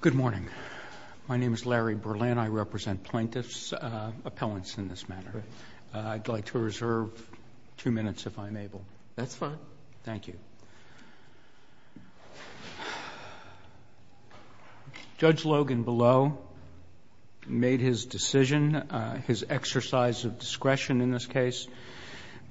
Good morning. My name is Larry Berlin. I represent plaintiffs appellants in this matter. I'd like to reserve two minutes if I'm able. That's fine. Thank you. Judge Logan below made his decision, his exercise of discretion in this case,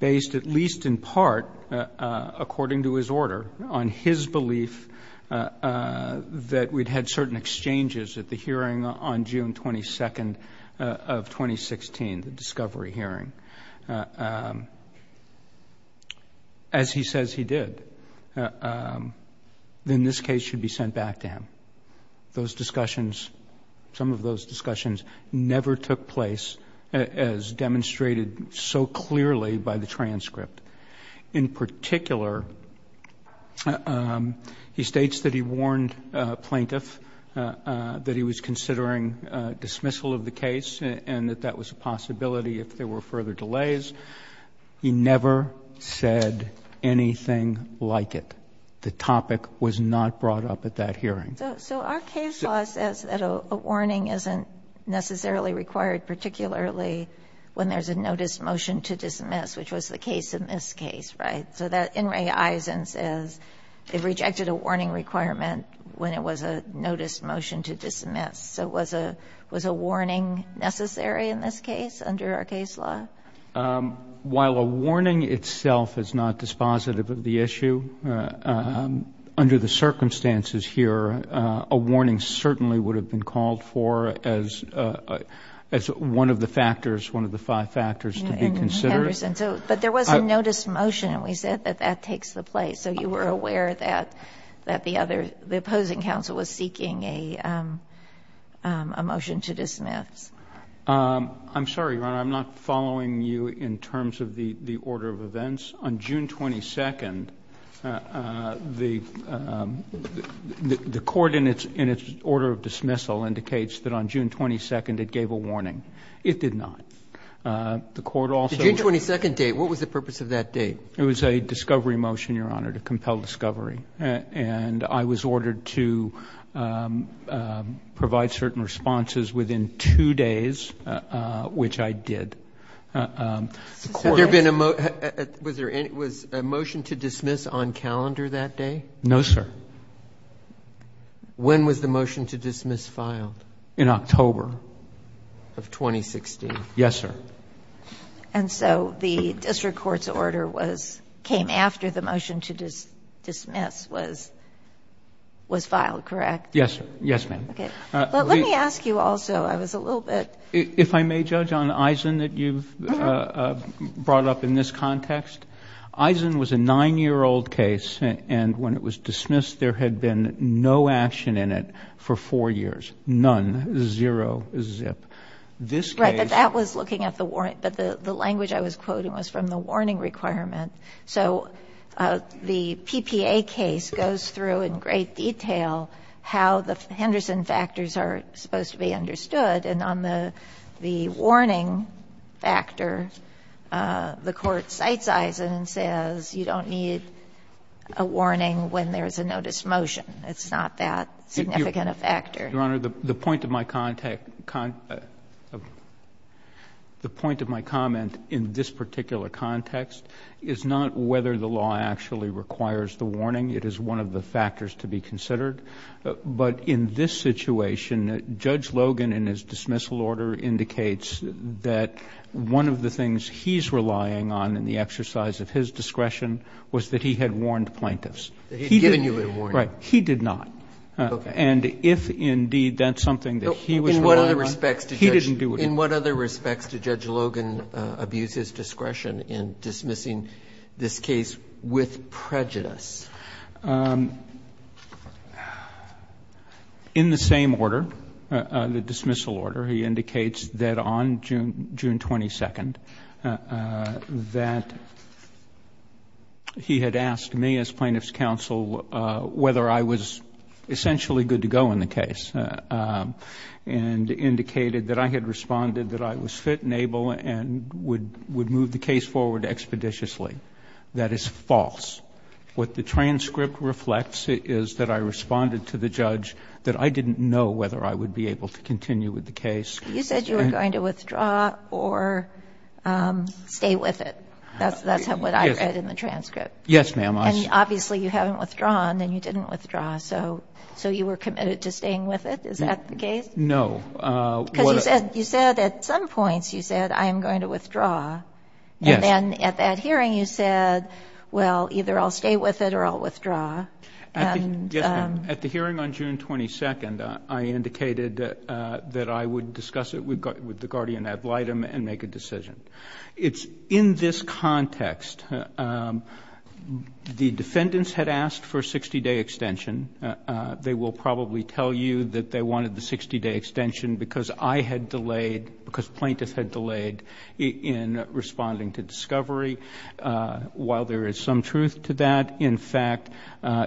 based at least in part, according to his order, on his belief that we'd had certain exchanges at the hearing on June 22nd of 2016, the discovery hearing. As he says he did, then this case should be sent back to him. Those discussions, some of those discussions, never took place as demonstrated so clearly by the transcript. In particular, he states that he warned plaintiff that he was considering dismissal of the case and that that was a possibility if there were further delays. He never said anything like it. The topic was not brought up at that hearing. So our case law says that a warning isn't necessarily required, particularly when there's a notice motion to dismiss, which was the case in this case, right? So that in my eyes and says they've rejected a warning requirement when it was a notice motion to dismiss. So was a was a warning necessary in this case under our case law? While a warning itself is not dispositive of the issue, under the circumstances here, a warning certainly would have been called for as as one of the factors, one of the five factors to be considered. But there was a notice motion and we said that that takes the place. So you were aware that that the other, the opposing counsel was seeking a motion to dismiss. I'm sorry, Your Honor, I'm not following you in terms of the the order of events. On June 22nd, the the court in its in its order of dismissal indicates that on June 22nd it gave a warning. It did not. The court also... The June 22nd date, what was the purpose of that date? It was a discovery motion, Your Honor, to compel discovery. And I was ordered to provide certain responses within two days, which I did. There been a... Was there was a motion to dismiss on calendar that day? No, sir. When was the motion to dismiss filed? In October of 2016. Yes, sir. And so the district court's order was came after the motion to dismiss was was filed, correct? Yes, yes, ma'am. But let me ask you also, I was a little bit... If I may judge on Eisen that you've brought up in this context. Eisen was a nine-year-old case and when it was dismissed, there had been no action in it for four years. None. Zero. Zip. This case... Right, but that was looking at the warrant, but the the language I was quoting was from the Henderson factors are supposed to be understood and on the the warning factor, the court cites Eisen and says you don't need a warning when there's a notice motion. It's not that significant a factor. Your Honor, the point of my contact... The point of my comment in this particular context is not whether the law actually requires the warning. It is one of the factors to be considered. But in this situation, Judge Logan in his dismissal order indicates that one of the things he's relying on in the exercise of his discretion was that he had warned plaintiffs. That he'd given you a warning. Right. He did not. And if indeed that's something that he was... In what other respects did Judge Logan abuse his discretion in dismissing this case with prejudice? In the same order, the dismissal order, he indicates that on June 22nd that he had asked me as plaintiff's counsel whether I was essentially good to go in the case and indicated that I had responded that I was fit and able and would would move the case forward expeditiously. That is false. What the transcript reflects is that I responded to the judge that I didn't know whether I would be able to continue with the case. You said you were going to withdraw or stay with it. That's what I read in the transcript. Yes, ma'am. And obviously you haven't withdrawn and you didn't withdraw. So you were committed to staying with it. Is that the case? No. Because you said at some points you said, I am going to withdraw. Yes. At that hearing, you said, well, either I'll stay with it or I'll withdraw. At the hearing on June 22nd, I indicated that I would discuss it with the guardian ad litem and make a decision. It's in this context. The defendants had asked for a 60-day extension. They will probably tell you that they wanted the 60-day extension because I had delayed, because plaintiffs had delayed in responding to discovery. While there is some truth to that, in fact,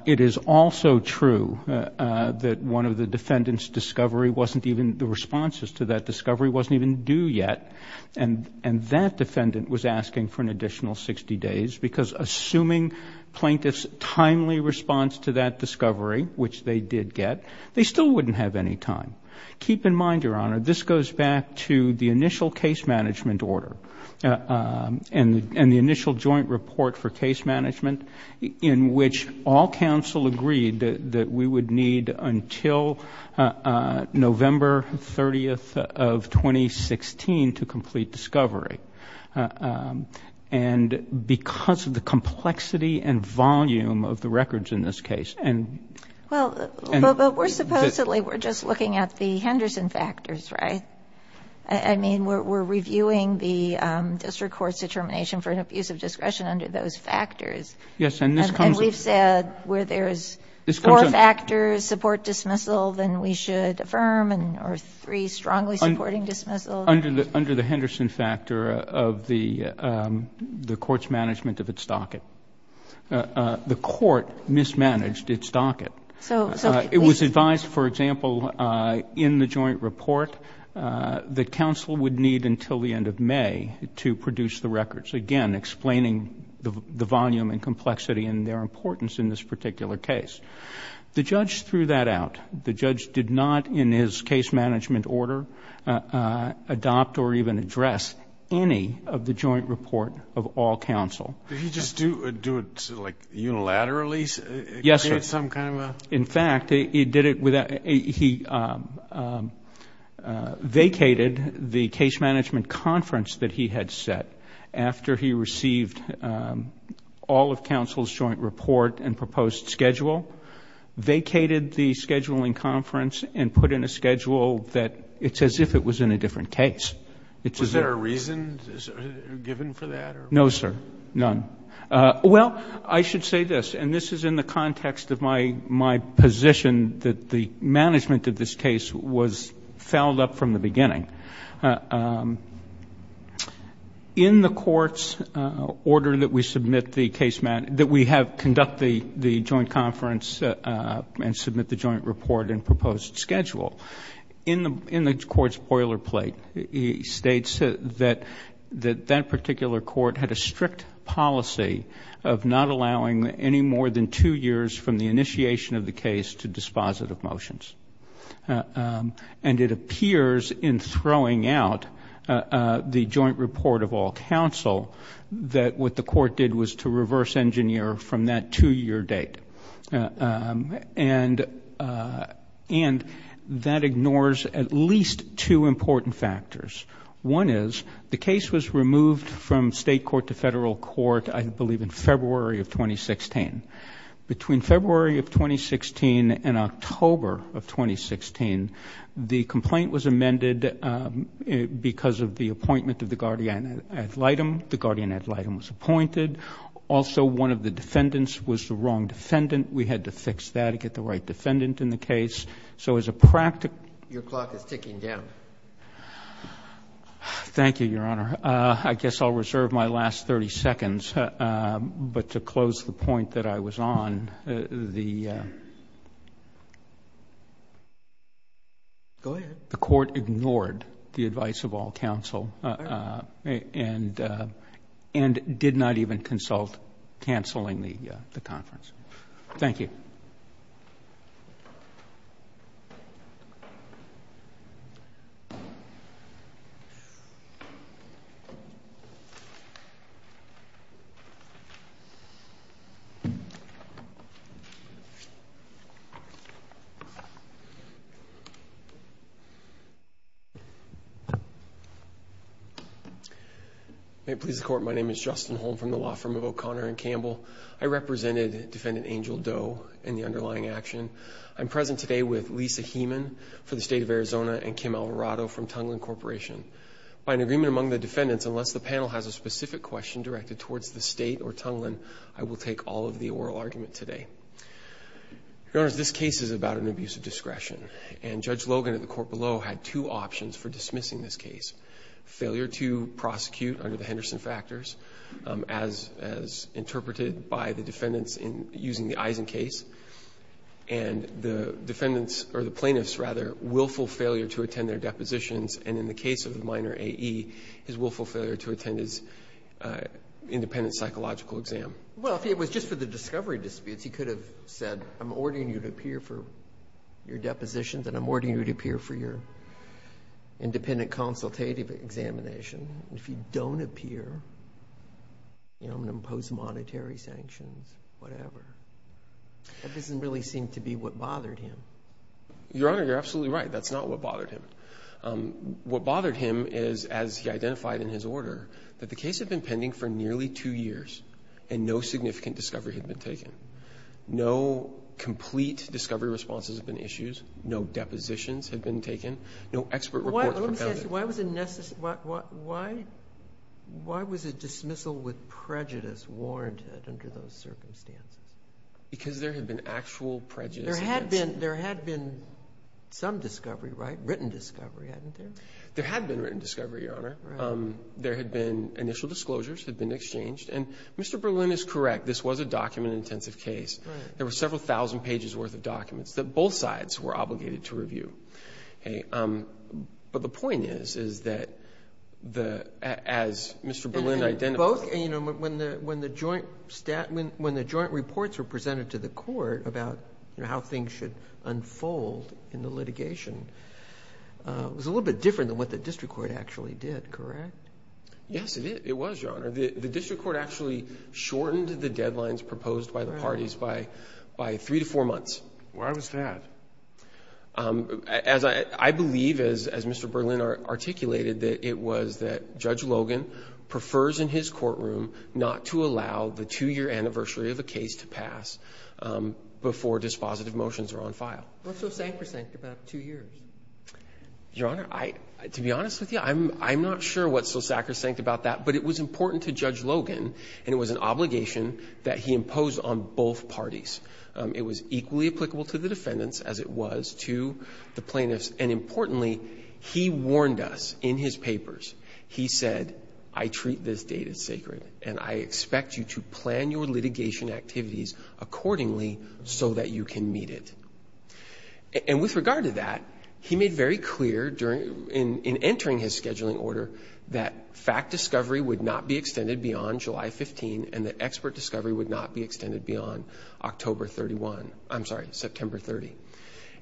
it is also true that one of the defendant's discovery wasn't even, the responses to that discovery wasn't even due yet. And that defendant was asking for an additional 60 days because assuming plaintiff's timely response to that discovery, which they did get, they still wouldn't have any time. Keep in mind, Your Honor, this goes back to the initial case management order and the initial joint report for case management in which all counsel agreed that we would need until November 30th of 2016 to complete discovery. And because of the complexity and volume of the records in this case and... The Henderson factors, right? I mean, we're reviewing the district court's determination for an abuse of discretion under those factors. And we've said where there's four factors, support dismissal, then we should affirm, or three, strongly supporting dismissal. Under the Henderson factor of the court's management of its docket. The court mismanaged its docket. So, please... It was advised, for example, in the joint report that counsel would need until the end of May to produce the records, again, explaining the volume and complexity and their importance in this particular case. The judge threw that out. The judge did not, in his case management order, adopt or even address any of the joint report of all counsel. Did he just do it unilaterally? Yes, sir. Create some kind of a... In fact, he vacated the case management conference that he had set after he received all of counsel's joint report and proposed schedule, vacated the scheduling conference and put in a schedule that it's as if it was in a different case. Was there a reason given for that? No, sir. None. Well, I should say this, and this is in the context of my position that the management of this case was fouled up from the beginning. In the court's order that we have conducted the joint conference and submit the joint report and proposed schedule, in the court's boilerplate, it states that that particular court had a strict policy of not allowing any more than two years from the initiation of the case to dispositive motions. It appears in throwing out the joint report of all counsel that what the court did was to reverse engineer from that two-year date. And that ignores at least two important factors. One is the case was removed from state court to federal court, I believe in February of 2016. Between February of 2016 and October of 2016, the complaint was amended because of the appointment of the guardian ad litem. The guardian ad litem was appointed. Also, one of the defendants was a wrong defendant. We had to fix that to get the right defendant in the case. So as a practical... Your clock is ticking down. Thank you, Your Honor. I guess I'll reserve my last 30 seconds. But to close the point that I was on, the court ignored the advice of all counsel and did not even consult canceling the conference. Thank you. May it please the court, my name is Justin Holm from the law firm of O'Connor and Campbell. I represented Defendant Angel Doe in the underlying action. I'm present today with Lisa Heeman for the state of Arizona and Kim Alvarado from Tunglin Corporation. By an agreement among the defendants, unless the panel has a specific question directed towards the state or Tunglin, I will take all of the oral argument today. Your Honor, this case is about an abuse of discretion. And Judge Logan at the prosecution under the Henderson factors as interpreted by the defendants using the Eisen case. And the defendants, or the plaintiffs, rather, willful failure to attend their depositions. And in the case of the minor A.E., his willful failure to attend his independent psychological exam. Well, if it was just for the discovery disputes, he could have said, I'm ordering you to appear for your depositions and I'm ordering you to appear for your examination. If you don't appear, I'm going to impose monetary sanctions, whatever. That doesn't really seem to be what bothered him. Your Honor, you're absolutely right. That's not what bothered him. What bothered him is, as he identified in his order, that the case had been pending for nearly two years and no significant discovery had been taken. No complete discovery responses had been issued. No depositions had been taken. No expert reports Why was a dismissal with prejudice warranted under those circumstances? Because there had been actual prejudice against him. There had been some discovery, right? Written discovery, hadn't there? There had been written discovery, Your Honor. There had been initial disclosures had been exchanged. And Mr. Berlin is correct. This was a document-intensive case. There were several thousand pages worth of documents that both sides were as Mr. Berlin identified- And both, when the joint reports were presented to the court about how things should unfold in the litigation, it was a little bit different than what the district court actually did, correct? Yes, it was, Your Honor. The district court actually shortened the deadlines proposed by the parties by three to four months. Why was that? As I believe, as Mr. Berlin articulated, that it was that Judge Logan prefers in his courtroom not to allow the two-year anniversary of a case to pass before dispositive motions are on file. What's so sacrosanct about two years? Your Honor, to be honest with you, I'm not sure what's so sacrosanct about that, but it was important to Judge Logan and it was an obligation that he imposed on both parties. It was equally applicable to the defendants as it was to the plaintiffs. And importantly, he warned us in his papers. He said, I treat this data sacred and I expect you to plan your litigation activities accordingly so that you can meet it. And with regard to that, he made very clear in entering his scheduling order that fact discovery would not be extended beyond July 15 and that expert discovery would not be extended beyond October 31. I'm sorry, September 30.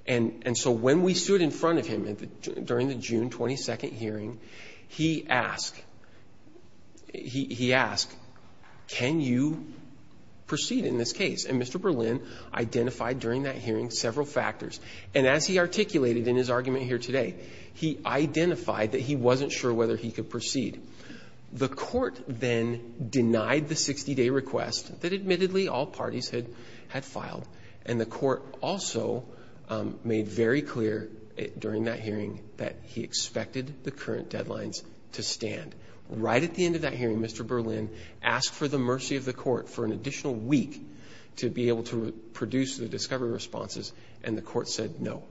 And so when we stood in front of him during the June 22nd hearing, he asked, can you proceed in this case? And Mr. Berlin identified during that hearing several factors. And as he articulated in his argument here today, he identified that he wasn't sure whether he could proceed. The court then denied the 60-day request that admittedly all parties had filed. And the court also made very clear during that hearing that he expected the current deadlines to stand. Right at the end of that hearing, Mr. Berlin asked for the mercy of the court for an additional week to be able to produce the discovery responses. And the court said no,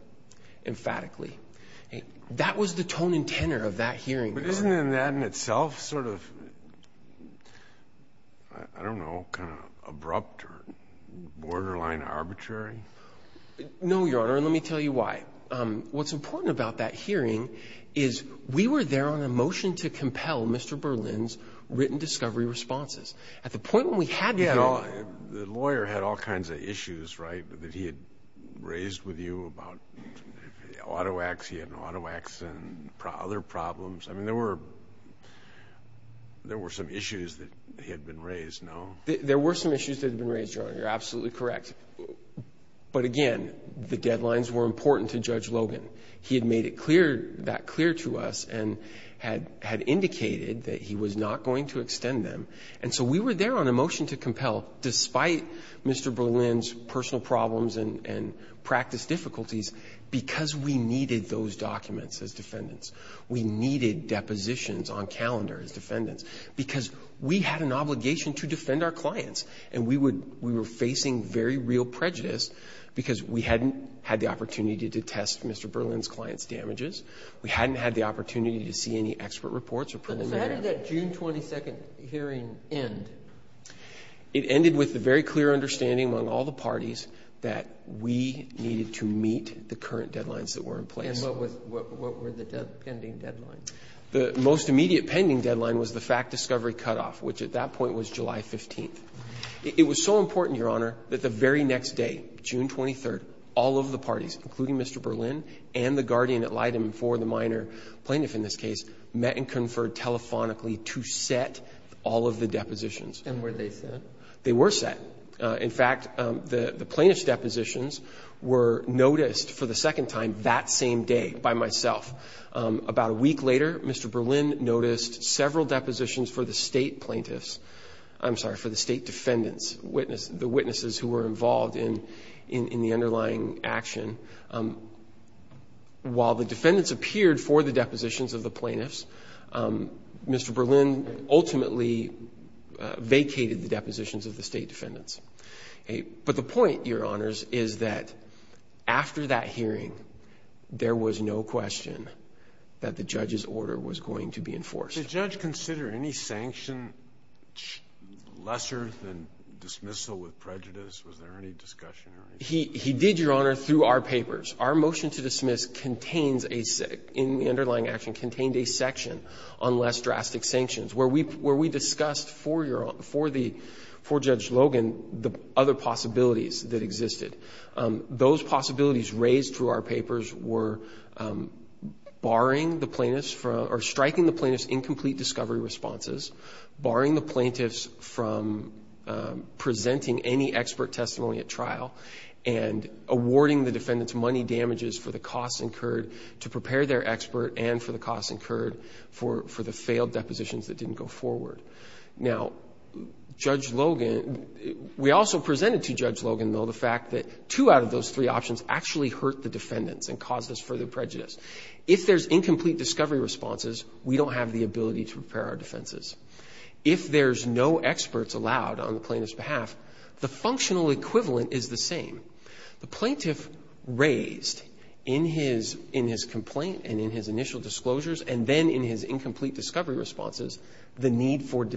emphatically. That was the tone and tenor of that hearing. But isn't that in itself sort of, I don't know, kind of abrupt or borderline arbitrary? No, Your Honor, and let me tell you why. What's important about that hearing is we were there on a motion to compel Mr. Berlin's written discovery responses. At the point when we had the hearing... You know, the lawyer had all kinds of issues, right, that he had raised with you about autowax, he had an autowax, and other problems. I mean, there were some issues that had been raised, no? There were some issues that had been raised, Your Honor. You're absolutely correct. But again, the deadlines were important to Judge Logan. He had made it clear, that clear to us, and had indicated that he was not going to extend them. And so we were there on a motion to compel, despite Mr. Berlin's personal problems and practice difficulties, because we needed those documents as defendants. We needed depositions on calendar as defendants, because we had an obligation to defend our clients. And we would, we were facing very real prejudice, because we hadn't had the opportunity to test Mr. Berlin's client's damages. We hadn't had the opportunity to see any expert reports or preliminary... So how did that June 22nd hearing end? It ended with a very clear understanding among all the parties that we needed to meet the current deadlines that were in place. And what was, what were the pending deadlines? The most immediate pending deadline was the fact-discovery cutoff, which at that point was July 15th. It was so important, Your Honor, that the very next day, June 23rd, all of the parties, including Mr. Berlin and the guardian ad litem for the minor plaintiff in this case, met and conferred telephonically to set all of the depositions. And were they set? They were set. In fact, the plaintiff's depositions were noticed for the second time that same day by myself. About a week later, Mr. Berlin noticed several depositions for the state plaintiffs, I'm sorry, for the state defendants, witness, the witnesses who were involved in the underlying action. While the defendants appeared for the depositions of the plaintiffs, Mr. Berlin ultimately vacated the depositions of the state defendants. But the point, Your Honors, is that after that hearing, there was no question that the judge's order was going to be enforced. Did the judge consider any sanction lesser than dismissal with prejudice? Was there any discussion? He did, Your Honor, through our papers. Our motion to dismiss contains a, in the where we discussed for the, for Judge Logan, the other possibilities that existed. Those possibilities raised through our papers were barring the plaintiffs from, or striking the plaintiffs' incomplete discovery responses, barring the plaintiffs from presenting any expert testimony at trial, and awarding the defendants money damages for the costs incurred to prepare their depositions that didn't go forward. Now, Judge Logan, we also presented to Judge Logan, though, the fact that two out of those three options actually hurt the defendants and caused us further prejudice. If there's incomplete discovery responses, we don't have the ability to prepare our defenses. If there's no experts allowed on the plaintiff's behalf, the functional equivalent is the same. The plaintiff raised in his complaint and in his initial disclosures, and then in his incomplete discovery responses, the need for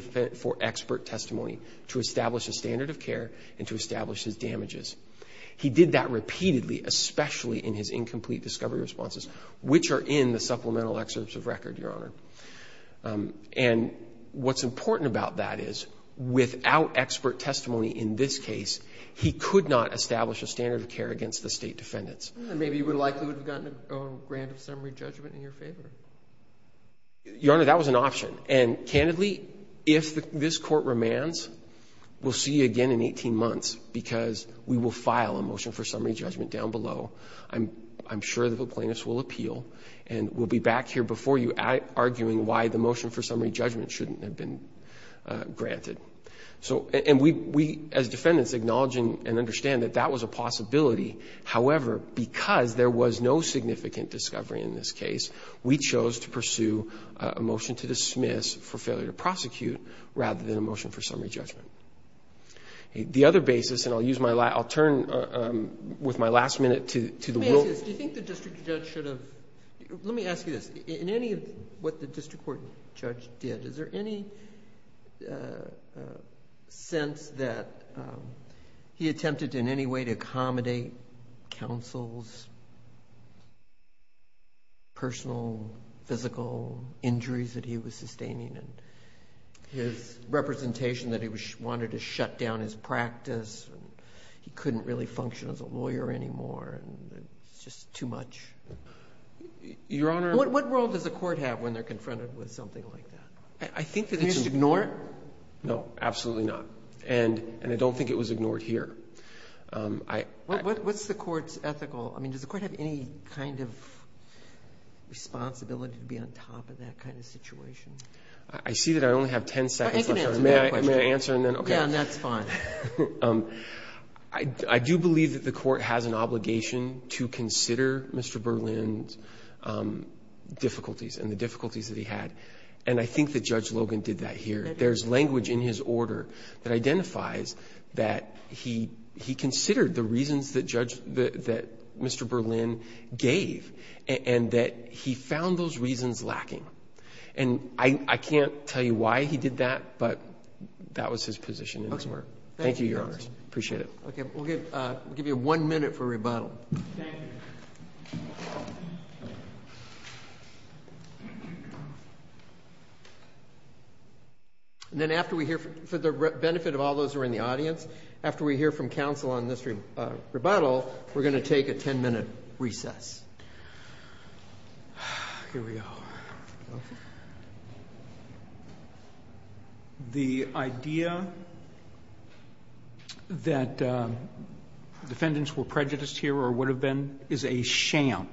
expert testimony to establish a standard of care and to establish his damages. He did that repeatedly, especially in his incomplete discovery responses, which are in the supplemental excerpts of record, Your Honor. And what's important about that is, without expert testimony in this case, he could not establish a standard of care against the state defendants. Maybe you would have likely gotten a grant of summary judgment in your favor. Your Honor, that was an option. And candidly, if this Court remands, we'll see you again in 18 months, because we will file a motion for summary judgment down below. I'm sure that the plaintiffs will appeal, and we'll be back here before you arguing why the motion for summary judgment shouldn't have been granted. So, and we, as defendants, acknowledging and understand that that was a possibility. However, because there was no significant discovery in this case, we chose to pursue a motion to dismiss for failure to prosecute, rather than a motion for summary judgment. The other basis, and I'll use my last, I'll turn with my last minute to the rule. Let me ask you this. Do you think the district judge should have, let me ask you this. In any of what the district court judge did, is there any sense that he attempted in any way to accommodate counsel's personal, physical injuries that he was sustaining, and his representation that he wanted to shut down his practice, and he couldn't really function as a lawyer anymore, and it's just too much? Your Honor. What role does the court have when they're confronted with something like that? I think that it's... You should ignore it? No, absolutely not. And I don't think it was ignored here. What's the court's ethical... I mean, does the court have any kind of responsibility to be on top of that kind of situation? I see that I only have 10 seconds left. You can answer the question. May I answer and then... Yeah, that's fine. I do believe that the court has an obligation to consider Mr. Berlin's difficulties, and the difficulties that he had. And I think that Judge Logan did that here. There's language in his order that identifies that he considered the reasons that Mr. Berlin gave, and that he found those reasons lacking. And I can't tell you why he did that, but that was his position in his work. Thank you, Your Honor. Appreciate it. Okay. We'll give you one minute for rebuttal. Thank you. And then after we hear... For the benefit of all those who are in the audience, after we hear from counsel on this rebuttal, we're going to take a 10-minute recess. Here we go. The idea that defendants were prejudiced here or would have been is a sham.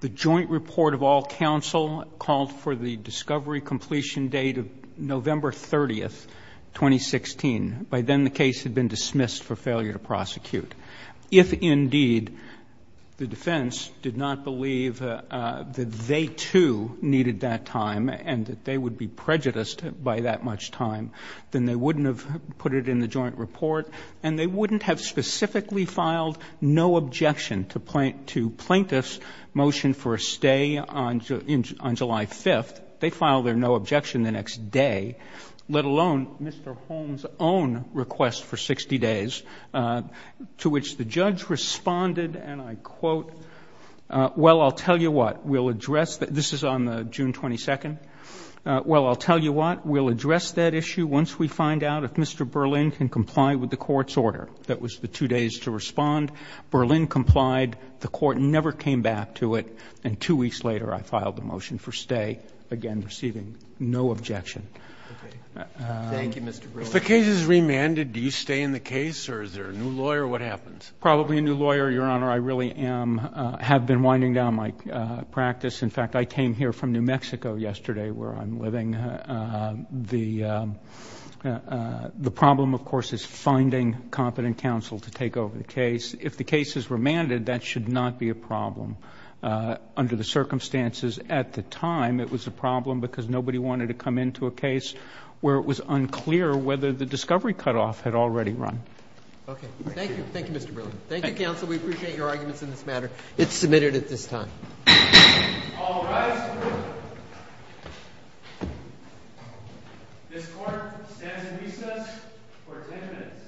The joint report of all counsel called for the discovery completion date of November 30th, 2016. By then, the case had been dismissed for failure to prosecute. If, indeed, the defense did not believe that they, too, needed that time, and that they would be prejudiced by that much time, then they wouldn't have put it in the joint report, and they wouldn't have specifically filed no objection to plaintiff's motion for a stay on July 5th. They filed their no objection the next day, let alone Mr. Holmes' own request for 60 days, to which the judge responded, and I quote, well, I'll tell you what, we'll address... This is on June 22nd. Well, I'll tell you what, we'll address that issue once we find out if Mr. Berlin can comply with the court's order. That was the two days to respond. Berlin complied. The court never came back to it, and two weeks later, I filed the motion for stay, again, receiving no objection. Thank you, Mr. Berlin. If the case is remanded, do you stay in the case, or is there a new lawyer? What happens? Probably a new lawyer, Your Honor. I really have been winding down my practice. In fact, I came here from New Mexico yesterday where I'm living. The problem, of course, is finding competent counsel to take over the case. If the case is remanded, that should not be a problem. Under the circumstances at the time, it was a problem because nobody wanted to come into a case where it was unclear whether the discovery cutoff had already run. Okay. Thank you. Thank you, Mr. Berlin. Thank you, counsel. We appreciate your arguments in this matter. It's submitted at this time. All rise. This court stands in recess for 10 minutes.